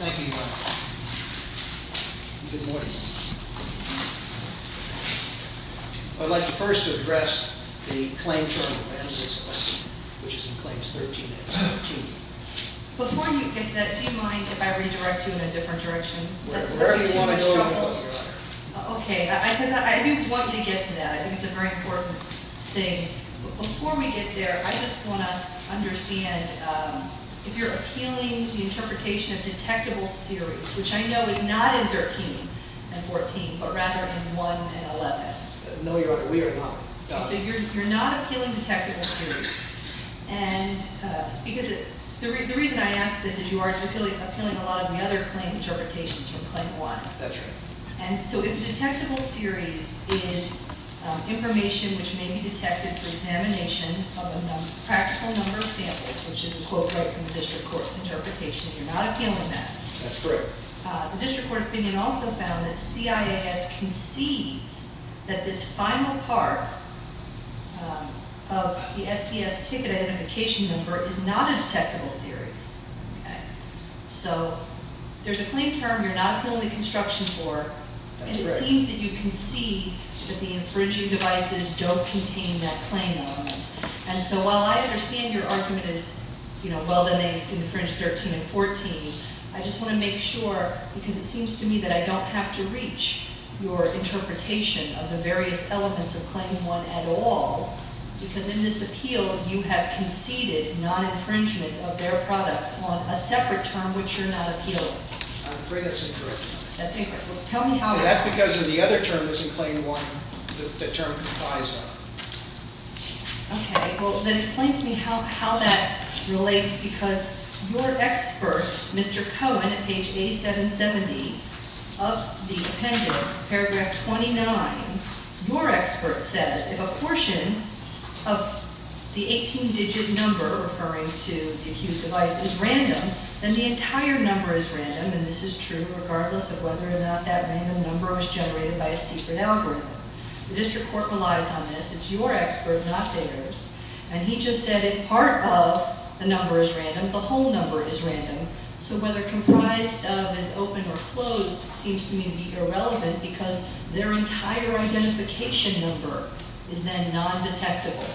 This is a titled solely for entertainment purposes only with no playin or somebodies The next case is number 06-13-42 G. S. Incorporated, A. S. Elias, A. D. Coe, B. Sheehan. Thank you. Good morning. I'd like to first address the claim from the plaintiff's claim, which is in claims 13 and 14. Before you get to that, do you mind if I redirect you in a different direction? Wherever you want to go, I'm closer. Okay, because I do want to get to that. I think it's a very important thing. Before we get there, I just want to understand if you're appealing the interpretation of detectable series, which I know is not in 13 and 14, but rather in 1 and 11. No, Your Honor, we are not. So you're not appealing detectable series. The reason I ask this is you are appealing a lot of the other claim interpretations from claim 1. That's right. So if detectable series is information which may be detected for examination of a practical number of samples, which is a quote right from the district court's interpretation, you're not appealing that. That's correct. The district court opinion also found that C.I.A.S. concedes that this final part of the SDS ticket identification number is not a detectable series. So there's a claim term you're not appealing the construction for, and it seems that you concede that the infringing devices don't contain that claim element. And so while I understand your argument is, you know, well, then they infringed 13 and 14, I just want to make sure, because it seems to me that I don't have to reach your interpretation of the various elements of claim 1 at all, because in this appeal, you have conceded non-infringement of their products on a separate term which you're not appealing. I'm afraid that's incorrect. That's incorrect. Well, tell me how— That's because of the other term that's in claim 1, the term comprise of. Okay. Well, then explain to me how that relates, because your expert, Mr. Cohen, at page 8770 of the appendix, paragraph 29, your expert says if a portion of the 18-digit number, referring to the accused device, is random, then the entire number is random, and this is true regardless of whether or not that random number was generated by a secret algorithm. The district court relies on this. It's your expert, not theirs. And he just said if part of the number is random, the whole number is random, so whether comprised of is open or closed seems to me to be irrelevant because their entire identification number is then non-detectable.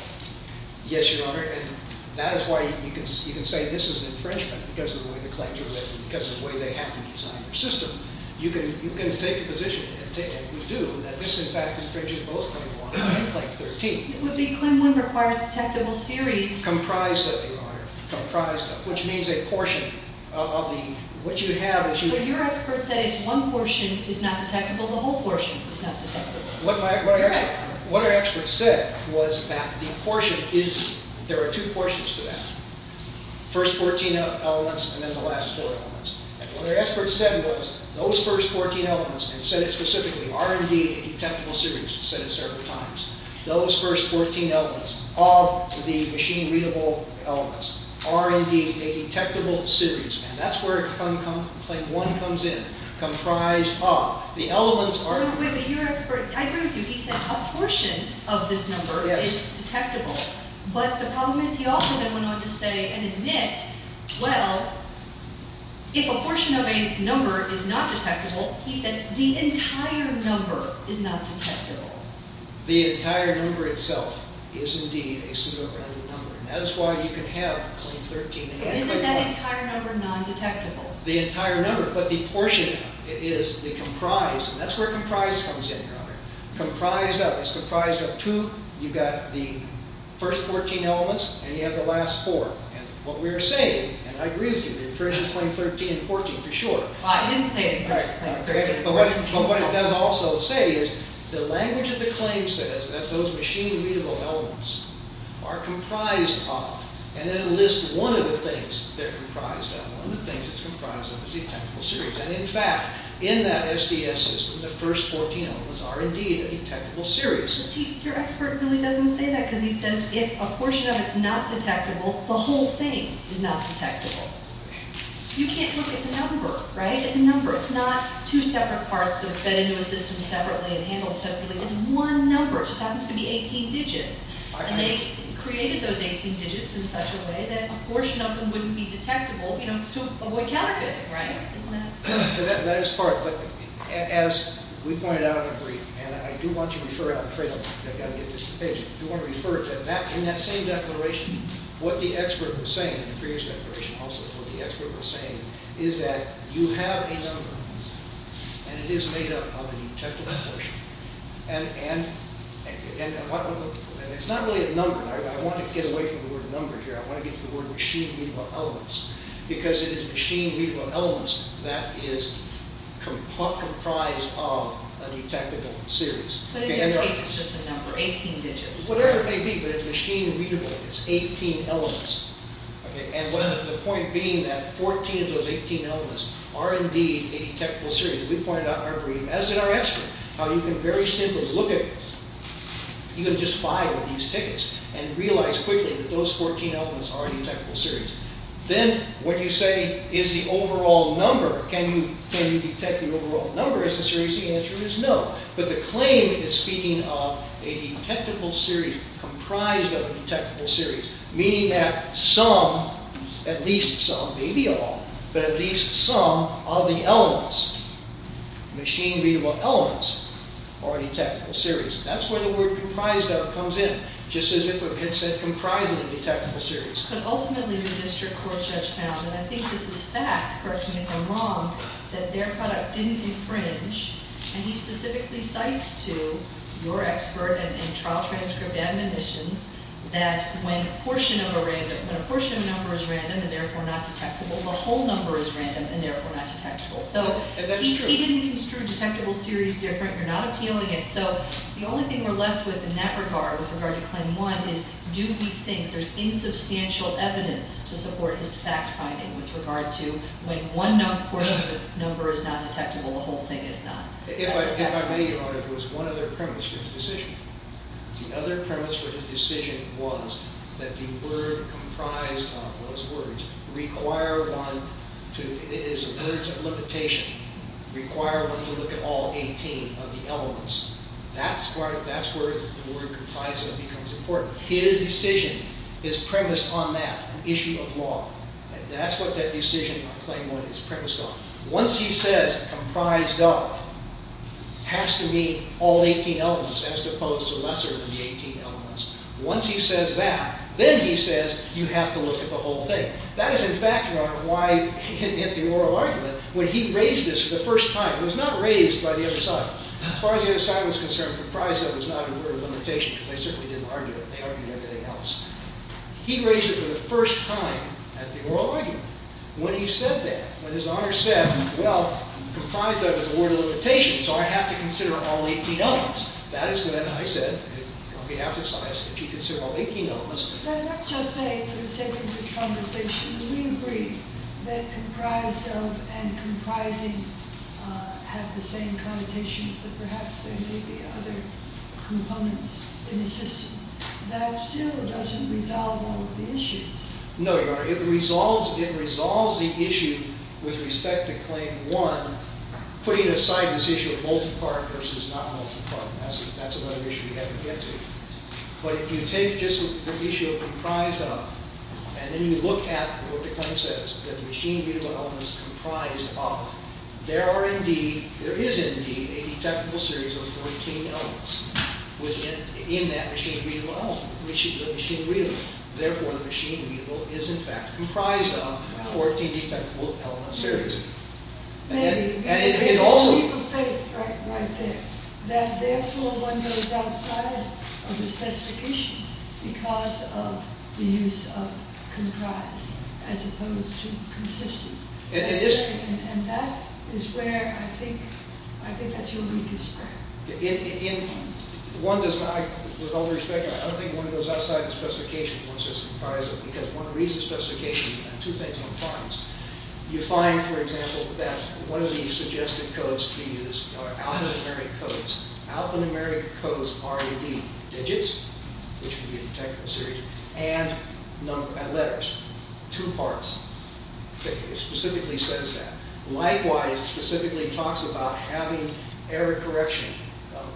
Yes, Your Honor, and that is why you can say this is an infringement because of the way the claims are written, because of the way they happen inside your system. You can take the position, and you do, that this, in fact, infringes both Claim 1 and Claim 13. It would be Claim 1 requires detectable series— Comprised of, Your Honor, comprised of, which means a portion of the— But your expert said if one portion is not detectable, the whole portion is not detectable. What our expert said was that the portion is—there are two portions to that. First 14 elements, and then the last four elements. And what our expert said was those first 14 elements, and said it specifically, are indeed a detectable series, said it several times. Those first 14 elements of the machine-readable elements are indeed a detectable series, and that's where Claim 1 comes in, comprised of. The elements are— No, wait, but your expert—I agree with you. He said a portion of this number is detectable. But the problem is he also then went on to say and admit, well, if a portion of a number is not detectable, he said the entire number is not detectable. The entire number itself is indeed a pseudorandom number, and that is why you can have Claim 13— So isn't that entire number non-detectable? The entire number, but the portion is the comprised, and that's where comprised comes in, Your Honor. Comprised of. It's comprised of two. You've got the first 14 elements, and you have the last four. And what we're saying, and I agree with you, the inferences claim 13 and 14 for sure. I didn't say the inferences claim 13 and 14. But what it does also say is the language of the claim says that those machine-readable elements are comprised of, and it lists one of the things they're comprised of, one of the things it's comprised of is the detectable series. And in fact, in that SDS system, the first 14 elements are indeed a detectable series. But your expert really doesn't say that, because he says if a portion of it's not detectable, the whole thing is not detectable. You can't say it's a number, right? It's a number. It's not two separate parts that are fed into a system separately and handled separately. It's one number. It just happens to be 18 digits. And they created those 18 digits in such a way that a portion of them wouldn't be detectable, you know, to avoid counterfeiting, right? Isn't that... That is part, but as we pointed out in the brief, and I do want to refer, I'm afraid I've got to get this page, I do want to refer to that, in that same declaration, what the expert was saying, in the previous declaration also, what the expert was saying is that you have a number, and it is made up of a detectable portion. And it's not really a number. I want to get away from the word number here. I want to get to the word machine-readable elements. Because it is machine-readable elements that is comprised of a detectable series. But in your case, it's just a number, 18 digits. Whatever it may be, but it's machine-readable. It's 18 elements. And the point being that 14 of those 18 elements are indeed a detectable series. We pointed out in our brief, as did our expert, how you can very simply look at... and realize quickly that those 14 elements are a detectable series. Then when you say, is the overall number, can you detect the overall number, essentially the answer is no. But the claim is speaking of a detectable series comprised of a detectable series. Meaning that some, at least some, maybe all, but at least some of the elements, machine-readable elements, are a detectable series. That's where the word comprised of comes in. Just as if it had said comprised of a detectable series. But ultimately the district court judge found, and I think this is fact, correct me if I'm wrong, that their product didn't infringe. And he specifically cites to your expert and trial transcript admonitions that when a portion of a number is random and therefore not detectable, the whole number is random and therefore not detectable. So he didn't construe detectable series different. You're not appealing it. So the only thing we're left with in that regard, with regard to Claim 1, is do we think there's insubstantial evidence to support his fact-finding with regard to when one number is not detectable, the whole thing is not. If I may, Your Honor, there was one other premise for the decision. The other premise for the decision was that the word comprised of those words require one to, in other words, a limitation, require one to look at all 18 of the elements. That's where the word comprised of becomes important. His decision is premised on that, an issue of law. That's what that decision on Claim 1 is premised on. Once he says comprised of has to mean all 18 elements, as opposed to lesser than the 18 elements. Once he says that, then he says you have to look at the whole thing. That is in fact, Your Honor, why in the oral argument, when he raised this for the first time, it was not raised by the other side. As far as the other side was concerned, comprised of was not a word of limitation because they certainly didn't argue it. They argued everything else. He raised it for the first time at the oral argument. When he said that, when his Honor said, well, comprised of is a word of limitation, so I have to consider all 18 elements. That is when I said, on behalf of science, that you consider all 18 elements. Let's just say, for the sake of this conversation, we agree that comprised of and comprising have the same connotations that perhaps there may be other components in the system. That still doesn't resolve all of the issues. No, Your Honor. It resolves the issue with respect to Claim 1, putting aside this issue of multi-part versus not multi-part. That's another issue we haven't yet taken. But if you take just the issue of comprised of, and then you look at what the claim says, that the machine readable element is comprised of, there is indeed a detectable series of 14 elements in that machine readable element. Therefore, the machine readable is in fact comprised of 14 detectable element series. Maybe. There is a heap of faith right there. That therefore, one goes outside of the specification because of the use of comprised as opposed to consistent. And that is where I think that is your weakest point. One does not, with all due respect, I don't think one goes outside the specification once there is comprised of because one reads the specification and two things one finds. You find, for example, that one of the suggested codes to use are alphanumeric codes. Alphanumeric codes are the digits, which would be a detectable series, and letters, two parts. It specifically says that. Likewise, it specifically talks about having error correction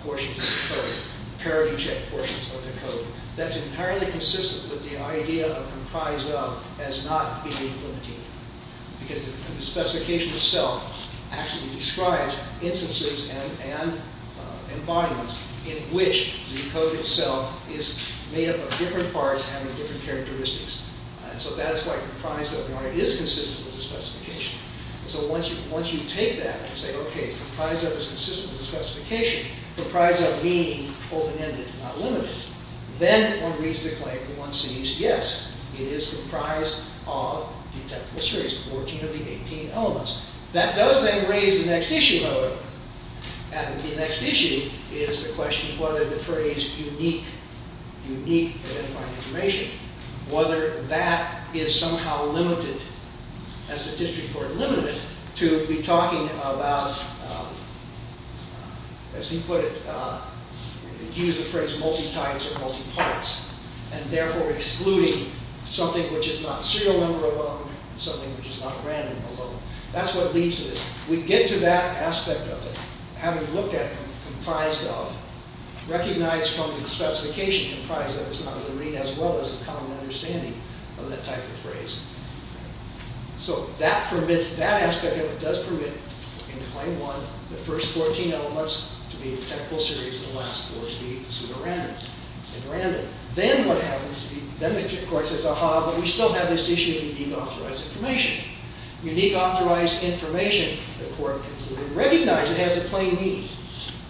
portions of the code, parity check portions of the code. That is entirely consistent with the idea of comprised of as not being limited. Because the specification itself actually describes instances and environments in which the code itself is made up of different parts having different characteristics. So that is why comprised of is consistent with the specification. So once you take that and say, okay, comprised of is consistent with the specification, comprised of being open-ended, not limited, then one reads the claim and one sees, yes, it is comprised of detectable series, 14 of the 18 elements. That does then raise the next issue, however. And the next issue is the question of whether the phrase unique, unique identifying information, whether that is somehow limited as the district court limited it to be talking about, as he put it, he used the phrase multi-types or multi-parts, and therefore excluding something which is not serial number alone, something which is not random alone. That is what leads to this. We get to that aspect of it, having looked at comprised of, recognized from the specification, comprised of is not a limit as well as a common understanding of that type of phrase. So that permits, that aspect of it does permit in claim one, the first 14 elements to be detectable series, and the last 14 to be considered random. Then what happens, then the district court says, aha, but we still have this issue of unique authorized information. Unique authorized information, the court concluded, recognized it has a plain meaning,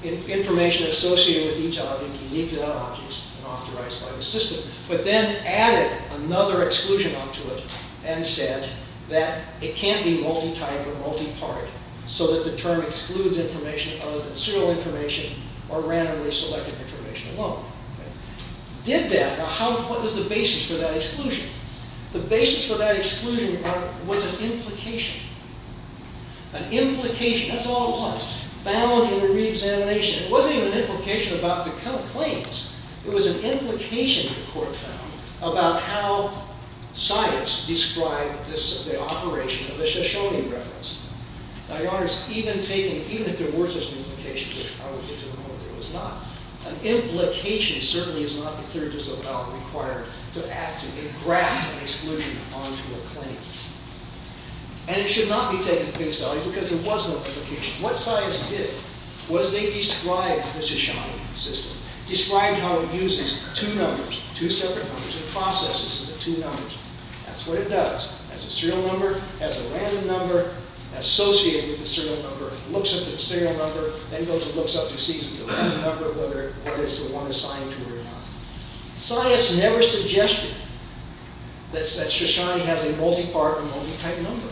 information associated with each element, unique to that object and authorized by the system, but then added another exclusion onto it, and said that it can't be multi-type or multi-part, so that the term excludes information other than serial information or randomly selected information alone. Did that, now what was the basis for that exclusion? The basis for that exclusion was an implication. An implication, that's all it was, found in a re-examination. It wasn't even an implication about the claims. It was an implication that the court found about how science described this, the operation of the Shoshone reference. Now your Honor, even taking, even if there were such an implication, which probably to the moment there was not, an implication certainly is not the clear disavowal required to actively graft an exclusion onto a claim. And it should not be taken at face value, because it was an implication. What science did, was they described the Shoshone system, described how it uses two numbers, two separate numbers, it processes the two numbers. That's what it does. It has a serial number, it has a random number, associated with the serial number, looks at the serial number, then goes and looks up to see if it's a random number, whether it is the one assigned to it or not. Science never suggested that Shoshone has a multi-part or multi-type number.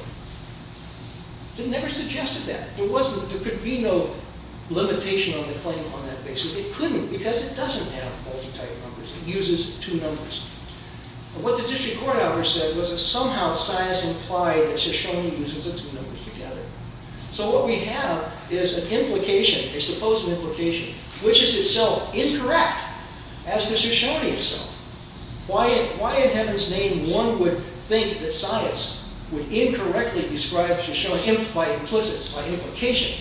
It never suggested that. There could be no limitation on the claim on that basis. It couldn't, because it doesn't have multi-type numbers. It uses two numbers. What the district court authors said, was that somehow science implied that Shoshone uses the two numbers together. So what we have is an implication, a supposed implication, which is itself incorrect, as the Shoshone itself. Why in heaven's name one would think that science would incorrectly describe Shoshone, by implicit, by implication,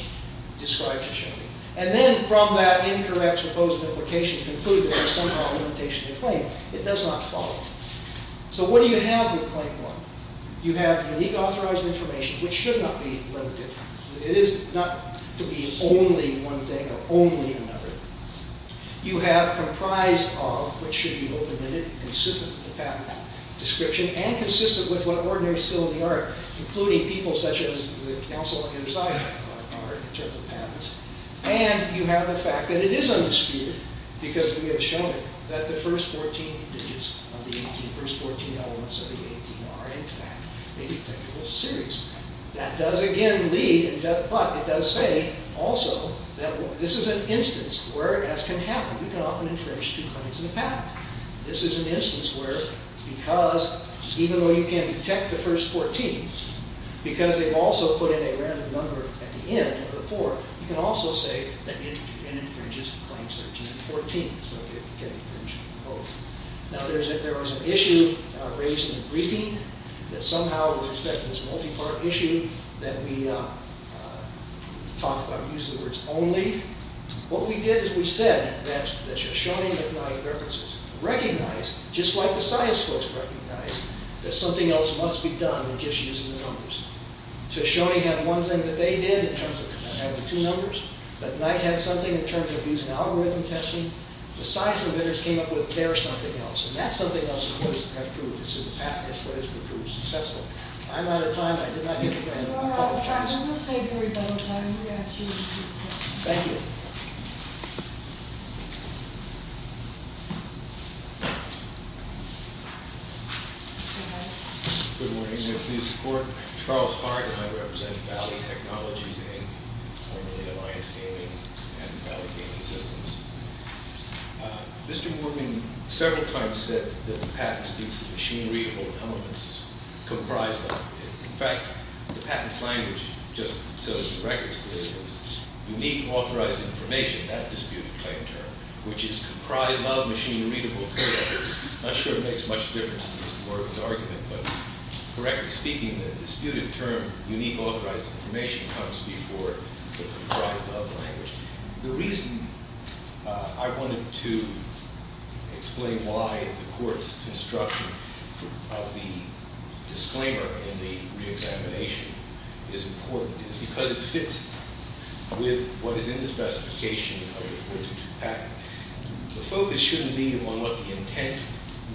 describe Shoshone. And then, from that incorrect supposed implication, conclude that there's somehow a limitation to the claim. It does not follow. So what do you have with Claim 1? You have unique authorized information, which should not be limited. It is not to be only one thing or only another. You have comprised of, which should be open-ended, consistent with the patent description, and consistent with what ordinary skill in the art, including people such as the Council on Insider Art, in terms of patents. And you have the fact that it is undisputed, because we have shown it, that the first 14 digits of the 18, the first 14 elements of the 18 are, in fact, indisputable as a series. That does, again, lead, but it does say, also, that this is an instance where, as can happen, we can often infringe two claims in a patent. This is an instance where, because, even though you can detect the first 14, because they've also put in a random number at the end of the four, you can also say that it infringes Claim 13 and 14. So you can infringe both. Now, there was an issue raised in the briefing that somehow, with respect to this multi-part issue that we talked about, we used the words only. What we did is we said that Shoshone-McNally references recognize, just like the science folks recognize, that something else must be done than just using the numbers. So Shoshone had one thing that they did in terms of having two numbers, but Knight had something in terms of using algorithm testing. The science inventors came up with their something else, and that something else is what has proved successful. If I'm out of time, I did not get the grant. If you're out of time, we'll save you a little time. We'll ask you a few questions. Thank you. Good morning. Charles Hart, and I represent Valley Technologies Inc., formerly Alliance Gaming and Valley Gaming Systems. Mr. Worming several times said that the patent speaks of machinery or elements comprised of it. In fact, the patent's language, just so the record's clear, is unique authorized information, that disputed claim term, which is comprised of machinery I'm not sure it makes much difference to Mr. Worming's argument, but correctly speaking, the disputed term unique authorized information comes before the comprised of language. The reason I wanted to explain why the court's construction of the disclaimer in the re-examination is important is because it fits with what is in the specification of the 42 patent. The focus shouldn't be on what the intent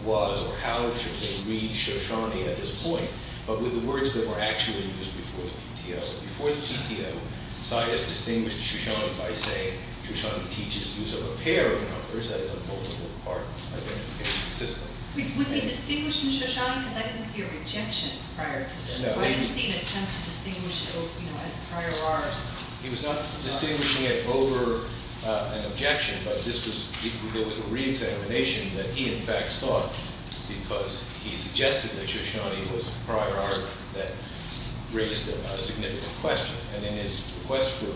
was or how it should be read Shoshani at this point, but with the words that were actually used before the PTO. Before the PTO, Saez distinguished Shoshani by saying Shoshani teaches use of a pair of numbers as a multiple part identification system. Was he distinguishing Shoshani? Because I didn't see a rejection prior to this. I didn't see an attempt to distinguish it as prior art. He was not distinguishing it over an objection, but there was a re-examination that he in fact sought because he suggested that Shoshani was prior art that raised a significant question. And in his request for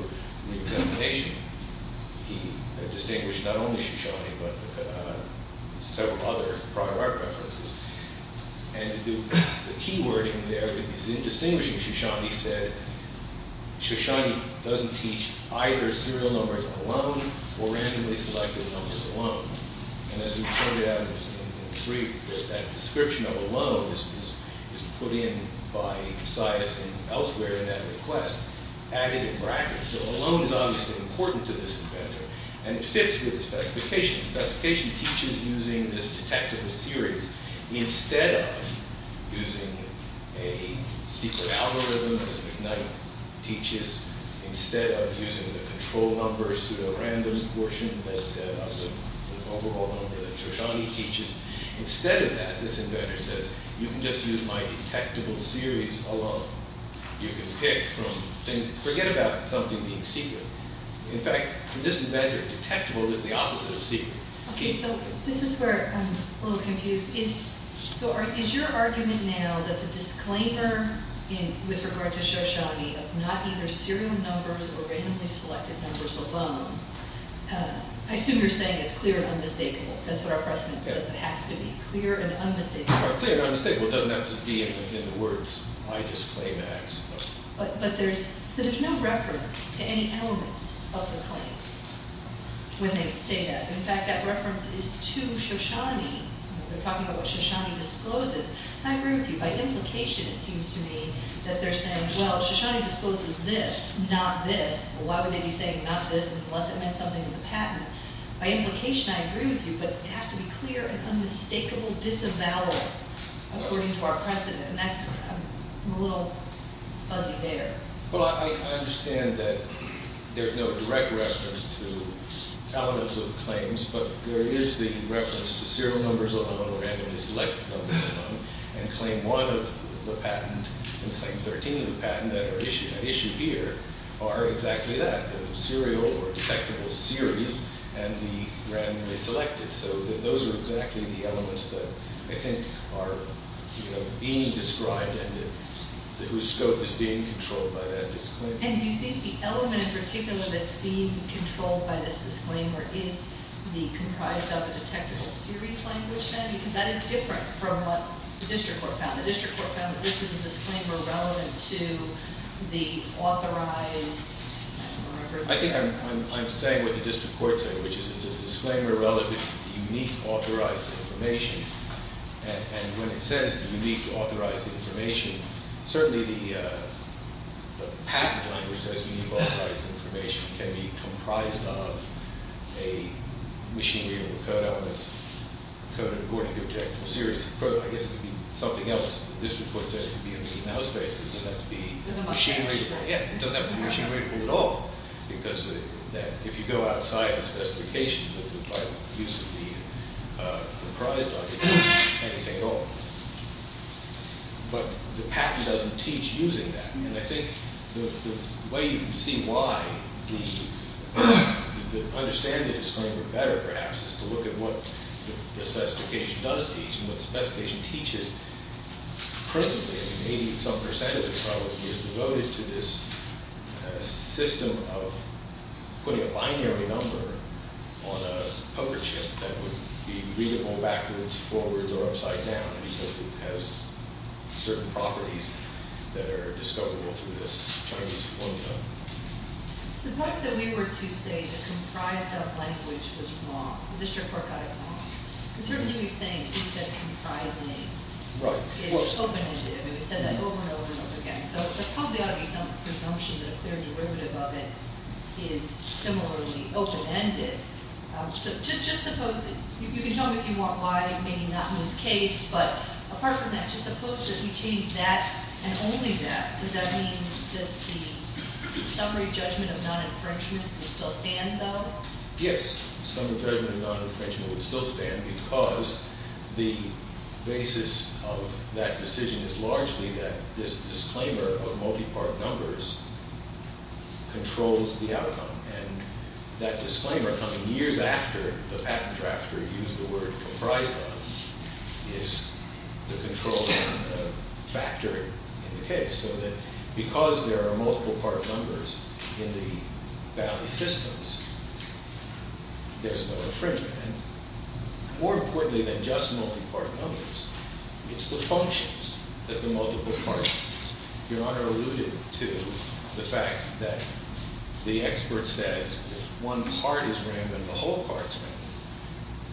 re-examination, he distinguished not only Shoshani, but several other prior art references. And the key wording there, that he's distinguishing Shoshani, said Shoshani doesn't teach either serial numbers alone or randomly selected numbers alone. And as we pointed out in the brief, that description of alone is put in by Saez and elsewhere in that request, added in brackets. So alone is obviously important to this inventor and it fits with his specifications. Specification teaches using this detective series instead of using a secret algorithm as McKnight teaches, instead of using the control number, pseudo-random portion of the overall number that Shoshani teaches. Instead of that, this inventor says, you can just use my detectable series alone. You can pick from things, forget about something being secret. In fact, from this inventor, detectable is the opposite of secret. Okay, so this is where I'm a little confused. Is your argument now that the disclaimer with regard to Shoshani of not either serial numbers or randomly selected numbers alone, I assume you're saying it's clear and unmistakable, because that's what our precedent says it has to be, clear and unmistakable. Clear and unmistakable doesn't have to be in the words, my disclaimer, I suppose. But there's no reference to any elements of the claims when they say that. In fact, that reference is to Shoshani. They're talking about what Shoshani discloses. I agree with you. By implication, it seems to me, that they're saying, well, Shoshani disposes this, not this. Well, why would they be saying not this unless it meant something to the patent? By implication, I agree with you, but it has to be clear and unmistakable, disavowal, according to our precedent. And that's, I'm a little fuzzy there. Well, I understand that there's no direct reference to elements of the claims, but there is the reference to serial numbers alone and randomly selected numbers alone and claim one of the patent and claim 13 of the patent that are issued here are exactly that, the serial or detectable series and the randomly selected. So those are exactly the elements that I think are being described and whose scope is being controlled by that disclaimer. And do you think the element in particular that's being controlled by this disclaimer is comprised of a detectable series language then? Because that is different from what the district court found. The district court found that this was a disclaimer relevant to the authorized... I think I'm saying what the district court said, which is it's a disclaimer relevant to the unique authorized information. And when it says the unique authorized information, certainly the patent language says unique authorized information can be comprised of a machine readable code elements according to a detectable series. I guess it would be something else the district court said it would be in the in-house space but it doesn't have to be machine readable. Yeah, it doesn't have to be machine readable at all because if you go outside the specifications of the use of the comprised logic, it doesn't mean anything at all. But the patent doesn't teach using that. And I think the way you can see why the understanding is going to be better perhaps is to look at what the specification does teach and what the specification teaches. Principally, maybe some percent of it probably is devoted to this system of putting a binary number on a poker chip that would be readable backwards, forwards, or upside down because it has certain properties that are discoverable through this Chinese formula. Suppose that we were to say that comprised of language was wrong. The district court got it wrong. It certainly would be saying who said comprising is open-ended. It would have said that over and over and over again. So there probably ought to be some presumption that a clear derivative of it is similarly open-ended. So just suppose, you can tell me if you want why, maybe not in this case, but apart from that, just suppose that we change that and only that. Does that mean that the summary judgment of non-infringement would still stand, though? Yes. The summary judgment of non-infringement would still stand because the basis of that decision is largely that this disclaimer of multi-part numbers controls the outcome. And that disclaimer coming years after the patent drafter used the word comprised of is the controlling factor in the case. So that because there are multiple part numbers in the value systems, there's no infringement. And more importantly than just multi-part numbers, it's the functions that the multiple parts. Your Honor alluded to the fact that the expert says if one part is random, the whole part's random.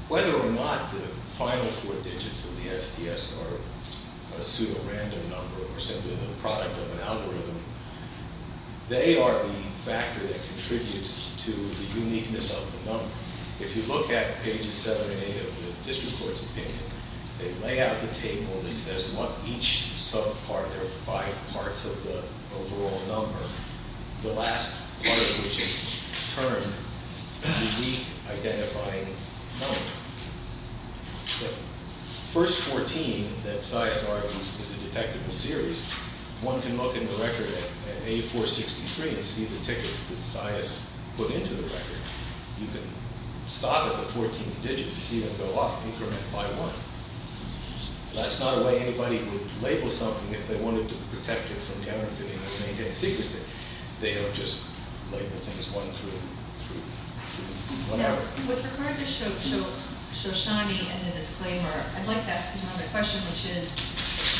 Whether or not the final four digits of the SDS are a pseudo-random number or simply the product of an algorithm, they are the factor that contributes to the uniqueness of the number. If you look at pages seven and eight of the district court's opinion, they lay out the table that says what each sub-part, there are five parts of the overall number, the last part of which is termed the re-identifying number. The first 14 that Sias argues is a detectable series. One can look in the record at A463 and see the tickets that Sias put into the record. You can stop at the 14th digit and see them go up, increment by one. That's not a way anybody would label something if they wanted to protect it from guaranteeing and maintain secrecy. They don't just label things one through three, whatever. With regard to Shoshani and the disclaimer, I'd like to ask another question, which is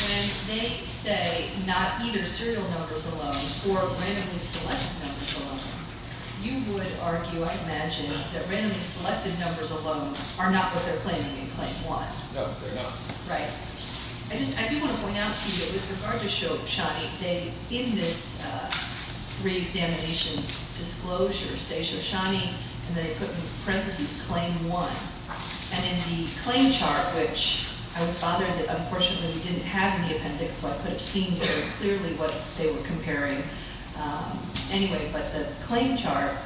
when they say not either serial numbers alone or randomly selected numbers alone, you would argue, I imagine, that randomly selected numbers alone are not what they're claiming in claim one. No, they're not. Right. I just, I do want to point out to you that with regard to Shoshani, they, in this re-examination disclosure, say Shoshani, and they put in parentheses claim one. And in the claim chart, which I was bothered that, unfortunately, we didn't have in the appendix, so I could have seen very clearly what they were comparing. Anyway, but the claim chart,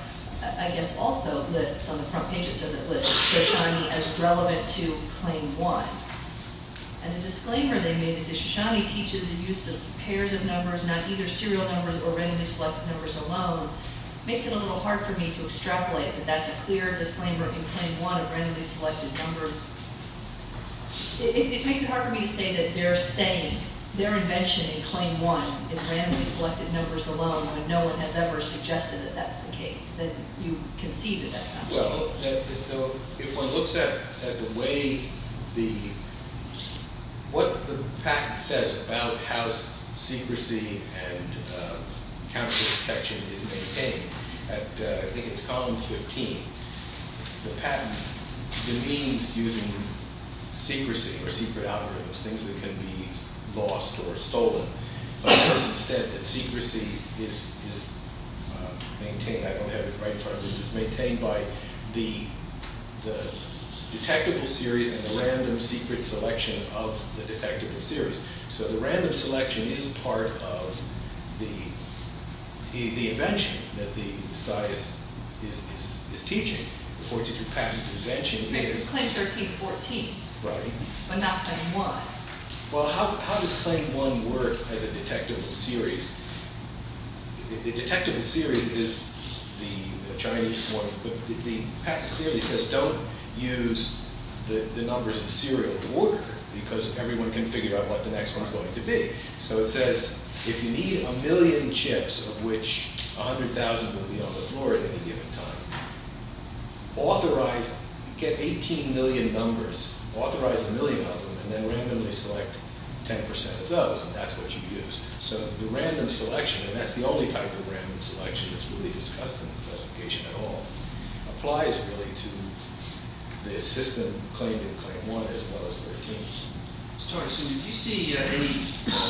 I guess, also lists on the front page, it says it lists Shoshani as relevant to claim one. And the disclaimer they made is that Shoshani teaches the use of pairs of numbers, not either serial numbers or randomly selected numbers alone. Makes it a little hard for me to extrapolate that that's a clear disclaimer in claim one about randomly selected numbers. It makes it hard for me to say that they're saying their invention in claim one is randomly selected numbers alone, when no one has ever suggested that that's the case, that you can see that that's not the case. Well, if one looks at the way the, what the patent says about how secrecy and counterfeit protection is maintained, I think it's column 15. The patent demeans using secrecy or secret algorithms, things that can be lost or stolen. But it says that secrecy is maintained, I don't have it right in front of me, is maintained by the detectable series and the random secret selection of the detectable series. So the random selection is part of the invention that the science is teaching. The patent's invention is... It's claim 13, 14. Right. But not claim one. Well, how does claim one work as a detectable series? The detectable series is the Chinese one, but the patent clearly says don't use the numbers in the serial order, because everyone can figure out what the next one's going to be. So it says, if you need a million chips, of which 100,000 will be on the floor at any given time, authorize, get 18 million numbers, authorize a million of them, and then randomly select 10% of those, and that's what you use. So the random selection, and that's the only type of random selection that's really discussed in this classification at all, applies really to the system claimed in claim one as well as 13. So did you see any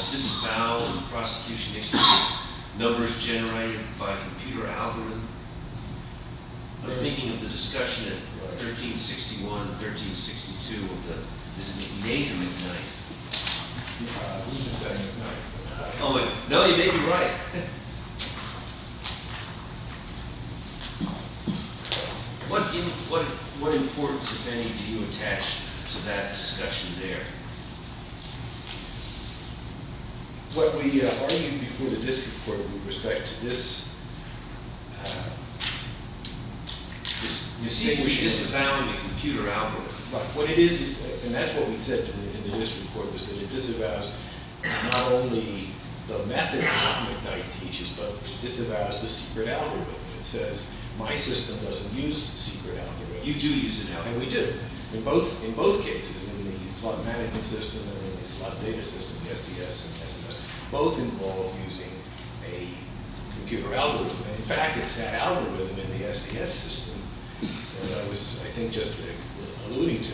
disavowal in prosecution history of numbers generated by a computer algorithm? I'm thinking of the discussion at 1361, 1362, of the... Is it McNamee or McKnight? Oh, wait. No, you may be right. What importance, if any, do you attach to that discussion there? What we argued before the district court with respect to this... You see, we disavowed a computer algorithm. Right, what it is, and that's what we said in the district court, was that it disavows not only the method that McNight teaches, but it disavows the secret algorithm. It says, my system doesn't use secret algorithms. You do use an algorithm. And we do. In both cases, in the slot management system and in the slot data system, the SDS and SMS, both involve using a computer algorithm. In fact, it's that algorithm in the SDS system, as I was, I think, just alluding to,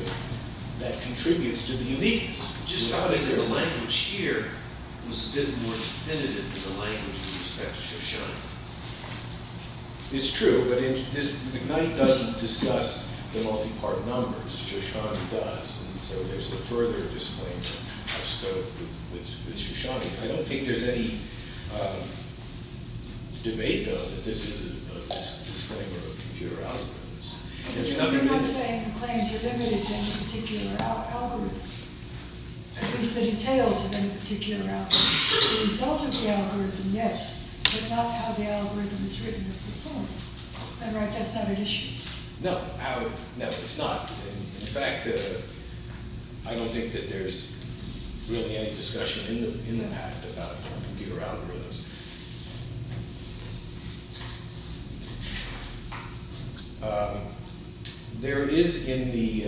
that contributes to the uniqueness. Just how the language here was a bit more definitive than the language with respect to Shoshana. It's true, but McNight doesn't discuss the multi-part numbers. Shoshana does, and so there's a further disclaimer outscoped with Shoshana. I don't think there's any debate, though, that this is a disclaimer of computer algorithms. You're not saying the claims are limited to any particular algorithm. At least the details of any particular algorithm. The result of the algorithm, yes, but not how the algorithm is written or performed. Is that right? That's not an issue. No, no, it's not. In fact, I don't think that there's really any discussion in that about computer algorithms. There is in the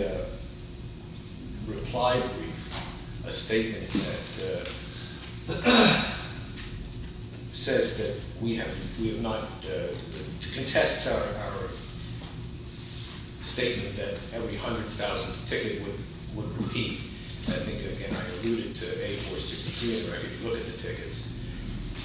reply brief a statement that says that we have not, that contests our statement that every hundredth, thousandth ticket would repeat. I think, again, I alluded to A463 in the record. You look at the tickets.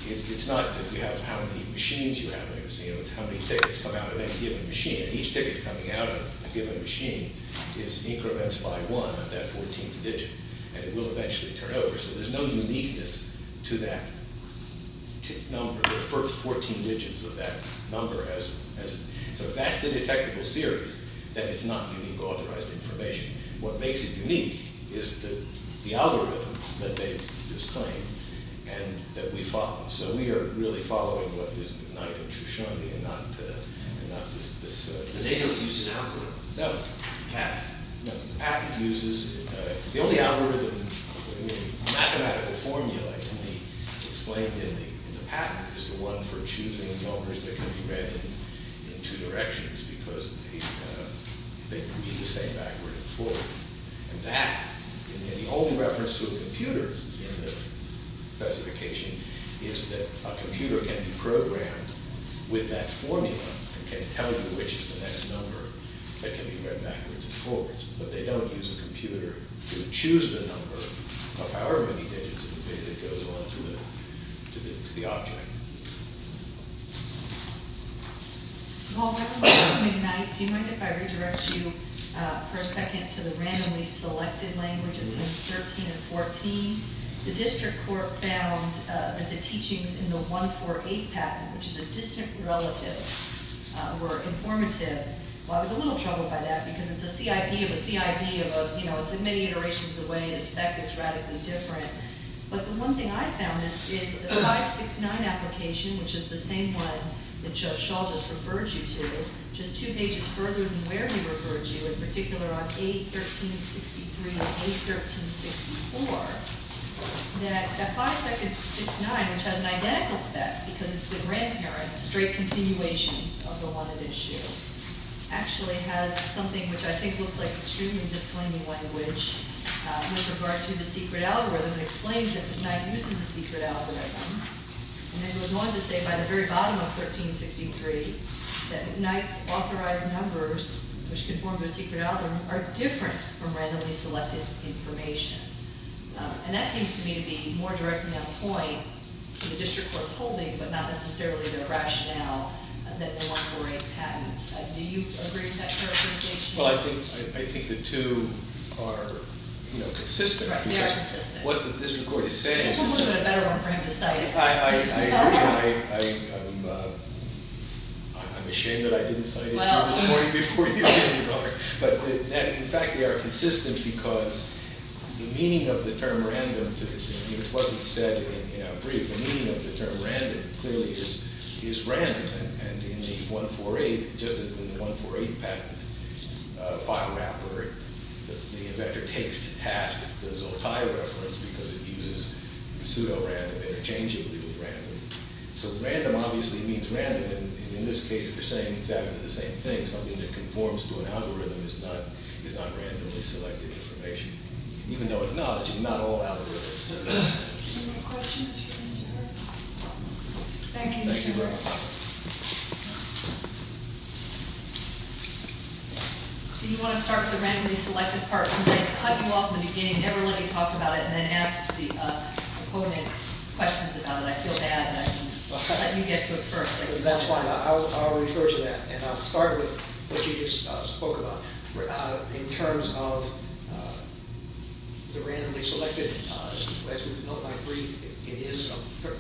It's not that you have how many machines you have in a museum. It's how many tickets come out of any given machine, and each ticket coming out of a given machine is incremented by one at that 14th digit, and it will eventually turn over, so there's no uniqueness to that number. There are 14 digits of that number, so that's the detectable series that is not unique authorized information. What makes it unique is the algorithm that they've disclaimed and that we follow, so we are really following what is denied in Trishani and not this system. They don't use an algorithm. No. The patent. No, the patent uses, the only algorithm, the mathematical formula explained in the patent is the one for choosing numbers that can be read in two directions because they can be the same backward and forward, and that, and the only reference to a computer in the specification is that a computer can be programmed with that formula and can tell you which is the next number that can be read backwards and forwards, but they don't use a computer to choose the number of however many digits that goes on to the object. Well, Dr. McKnight, do you mind if I redirect you for a second to the randomly selected language of things 13 and 14? The district court found that the teachings in the 148 patent, which is a distant relative, were informative. Well, I was a little troubled by that because it's a CIP of a CIP of, you know, it's many iterations away and the spec is radically different, but the one thing I found is that the 569 application, which is the same one that Shaul just referred you to, just two pages further than where he referred you, in particular on A1363 and A1364, that 569, which has an identical spec because it's the grandparent, straight continuations of the one at issue, actually has something which I think looks like extremely disclaiming language with regard to the secret algorithm that explains that McKnight uses a secret algorithm and then goes on to say by the very bottom of 1363 that McKnight's authorized numbers, which conform to a secret algorithm, are different from randomly selected information. And that seems to me to be more directly on point to the district court's holding but not necessarily the rationale that the 148 patent. Do you agree with that characterization? Well, I think the two are, you know, consistent. Right, they are consistent. What the district court is saying This one was a better one for him to cite. I'm ashamed that I didn't cite it this morning before you came to court. But in fact, they are consistent because the meaning of the term random to what he said in our brief, the meaning of the term random clearly is random. And in the 148, just as in the 148 patent file wrapper, the inventor takes to task the Zoltai reference because it uses pseudo-random interchangeably with random. So random obviously means random and in this case they're saying exactly the same thing. Something that conforms to an algorithm is not randomly selected information. Even though if not, it's not all algorithms. Any more questions for Mr. Kern? Thank you. Thank you very much. Do you want to start with the randomly selected part? Because I cut you off in the beginning, never let you talk about it and then asked the opponent questions about it. I feel bad and I didn't let you get to it first. That's fine. I'll refer to that and I'll start with what you just spoke about. In terms of the randomly selected, as we know by brief, it is a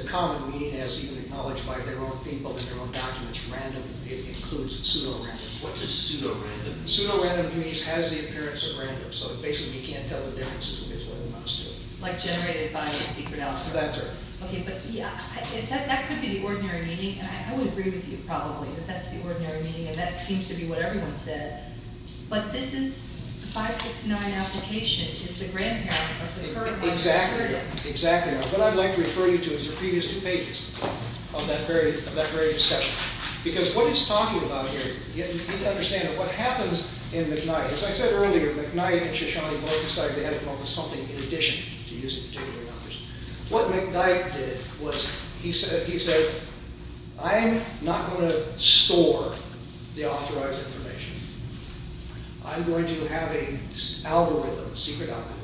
common meaning as even acknowledged by their own people and their own documents. Random includes pseudo-random. What does pseudo-random mean? Pseudo-random means it has the appearance of random. So basically you can't tell the difference between what it must do. Like generated by a secret algorithm. That's right. But that could be the ordinary meaning and I would agree with you probably that that's the ordinary meaning and that seems to be what everyone said. But this is the 569 application is the grandparent of the current model. Exactly. Exactly. What I'd like to refer you to is the previous two pages of that very discussion. Because what he's talking about here you need to understand what happens in McKnight. As I said earlier McKnight and Shoshana both decided they had to come up with something in addition to using particular numbers. What McKnight did was he said I'm not going to store the authorized information. I'm going to have an algorithm, a secret algorithm,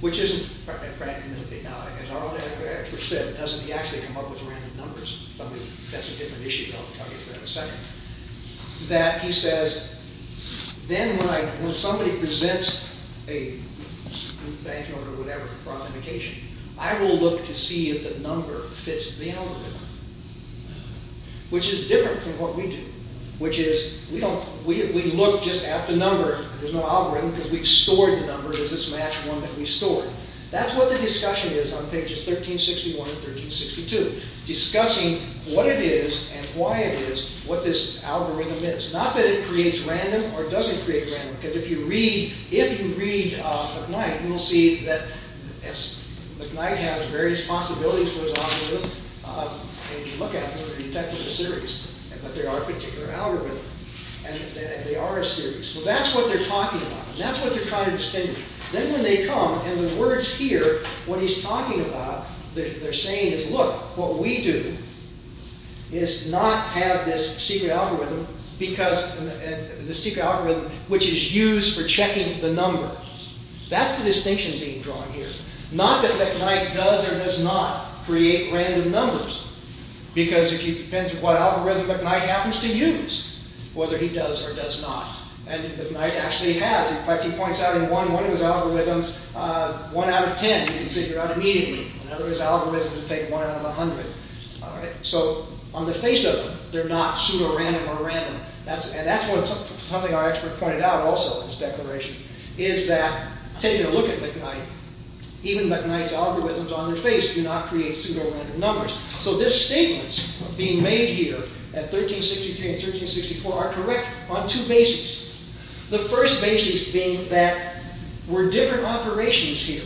which isn't As our other expert said it doesn't actually come up with random numbers. That's a different issue that I'll cover for that in a second. That he says then when somebody presents a banknote or whatever for authentication I will look to see if the number fits the algorithm. Which is different from what we do. Which is we look just at the number there's no algorithm because we've stored the number does this match the one that we stored. That's what the discussion is on pages 1361 and 1362. Discussing what it is and why it is what this algorithm is. Not that it creates random or doesn't create random because if you read if you read McKnight you'll see that McKnight has various possibilities for his algorithm and if you look at them you can detect they're a series. But they are a particular algorithm. And they are a series. So that's what they're talking about. That's what they're trying to distinguish. Then when they come and the words here what he's talking about they're saying is look, what we do is not have this secret algorithm because the secret algorithm which is used for checking the number. That's the distinction being drawn here. Not that McKnight does or does not create random numbers because it depends on what algorithm McKnight happens to use. Whether he does or does not. And McKnight actually has in fact he points out in one of his algorithms one out of ten he can figure out immediately. In other words algorithms take one out of a hundred. So on the face of it they're not pseudo-random or random. And that's something our expert pointed out also in his declaration. Is that taking a look at McKnight even McKnight's algorithms on their face do not create pseudo-random numbers. So this statement being made here at 1363 and 1364 are correct on two bases. The first basis being that we're different operations here.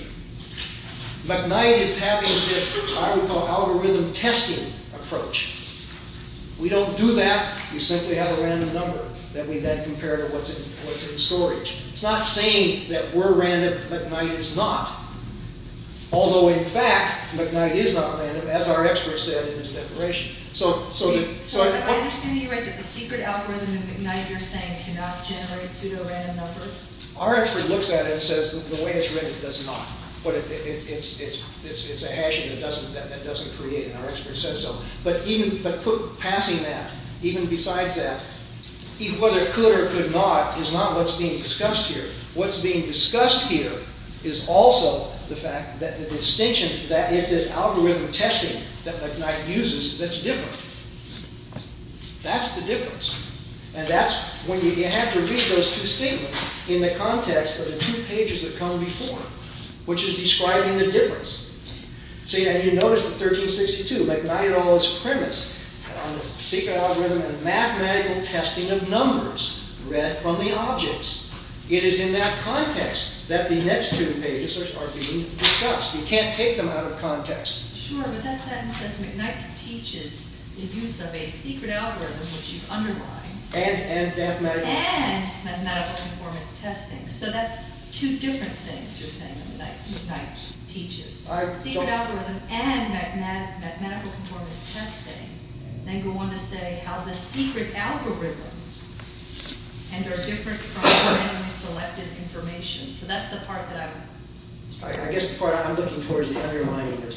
McKnight is having this I would call algorithm testing approach. We don't do that. We simply have a random number that we then compare to what's in storage. It's not saying that we're random McKnight is not. Although in fact McKnight is not random as our expert said in his declaration. So I understand you write that the secret algorithm of McKnight you're saying cannot generate pseudo-random numbers. Our expert looks at it and says the way it's written it does not. But it's a hash that doesn't create and our expert says so. But passing that even besides that whether it could or could not is not what's being discussed here. What's being discussed here is also the fact that the distinction that is this algorithm testing that McKnight uses that's different. That's the difference. And that's when you have to read those two statements in the context of the two pages that come before which is describing the difference. So you notice in 1362 McKnight all his premise on the secret algorithm and mathematical testing of numbers read from the objects. It is in that context that the next two pages are being discussed. You can't take them out of context. Sure, but that sentence says McKnight teaches the use of a secret algorithm which you've underlined and mathematical performance testing. So that's two different things you're saying that McKnight teaches. Secret algorithm and mathematical performance testing then go on to say how the secret algorithm and are different from randomly selected information. So that's the part that I'm... I guess the part I'm looking for is the underlining of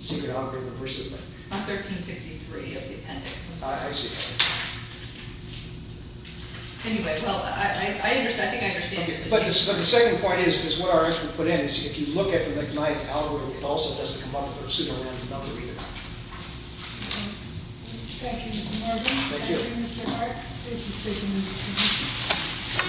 secret algorithm versus... On 1363 of the appendix. I see. Anyway, well, I think I understand your distinction. But the second point is what our expert put in is if you look at the McKnight algorithm it also doesn't come up with a pseudorandom number either. Thank you, Mr. Morgan. Thank you. And Mr. Hart, this is taking into consideration.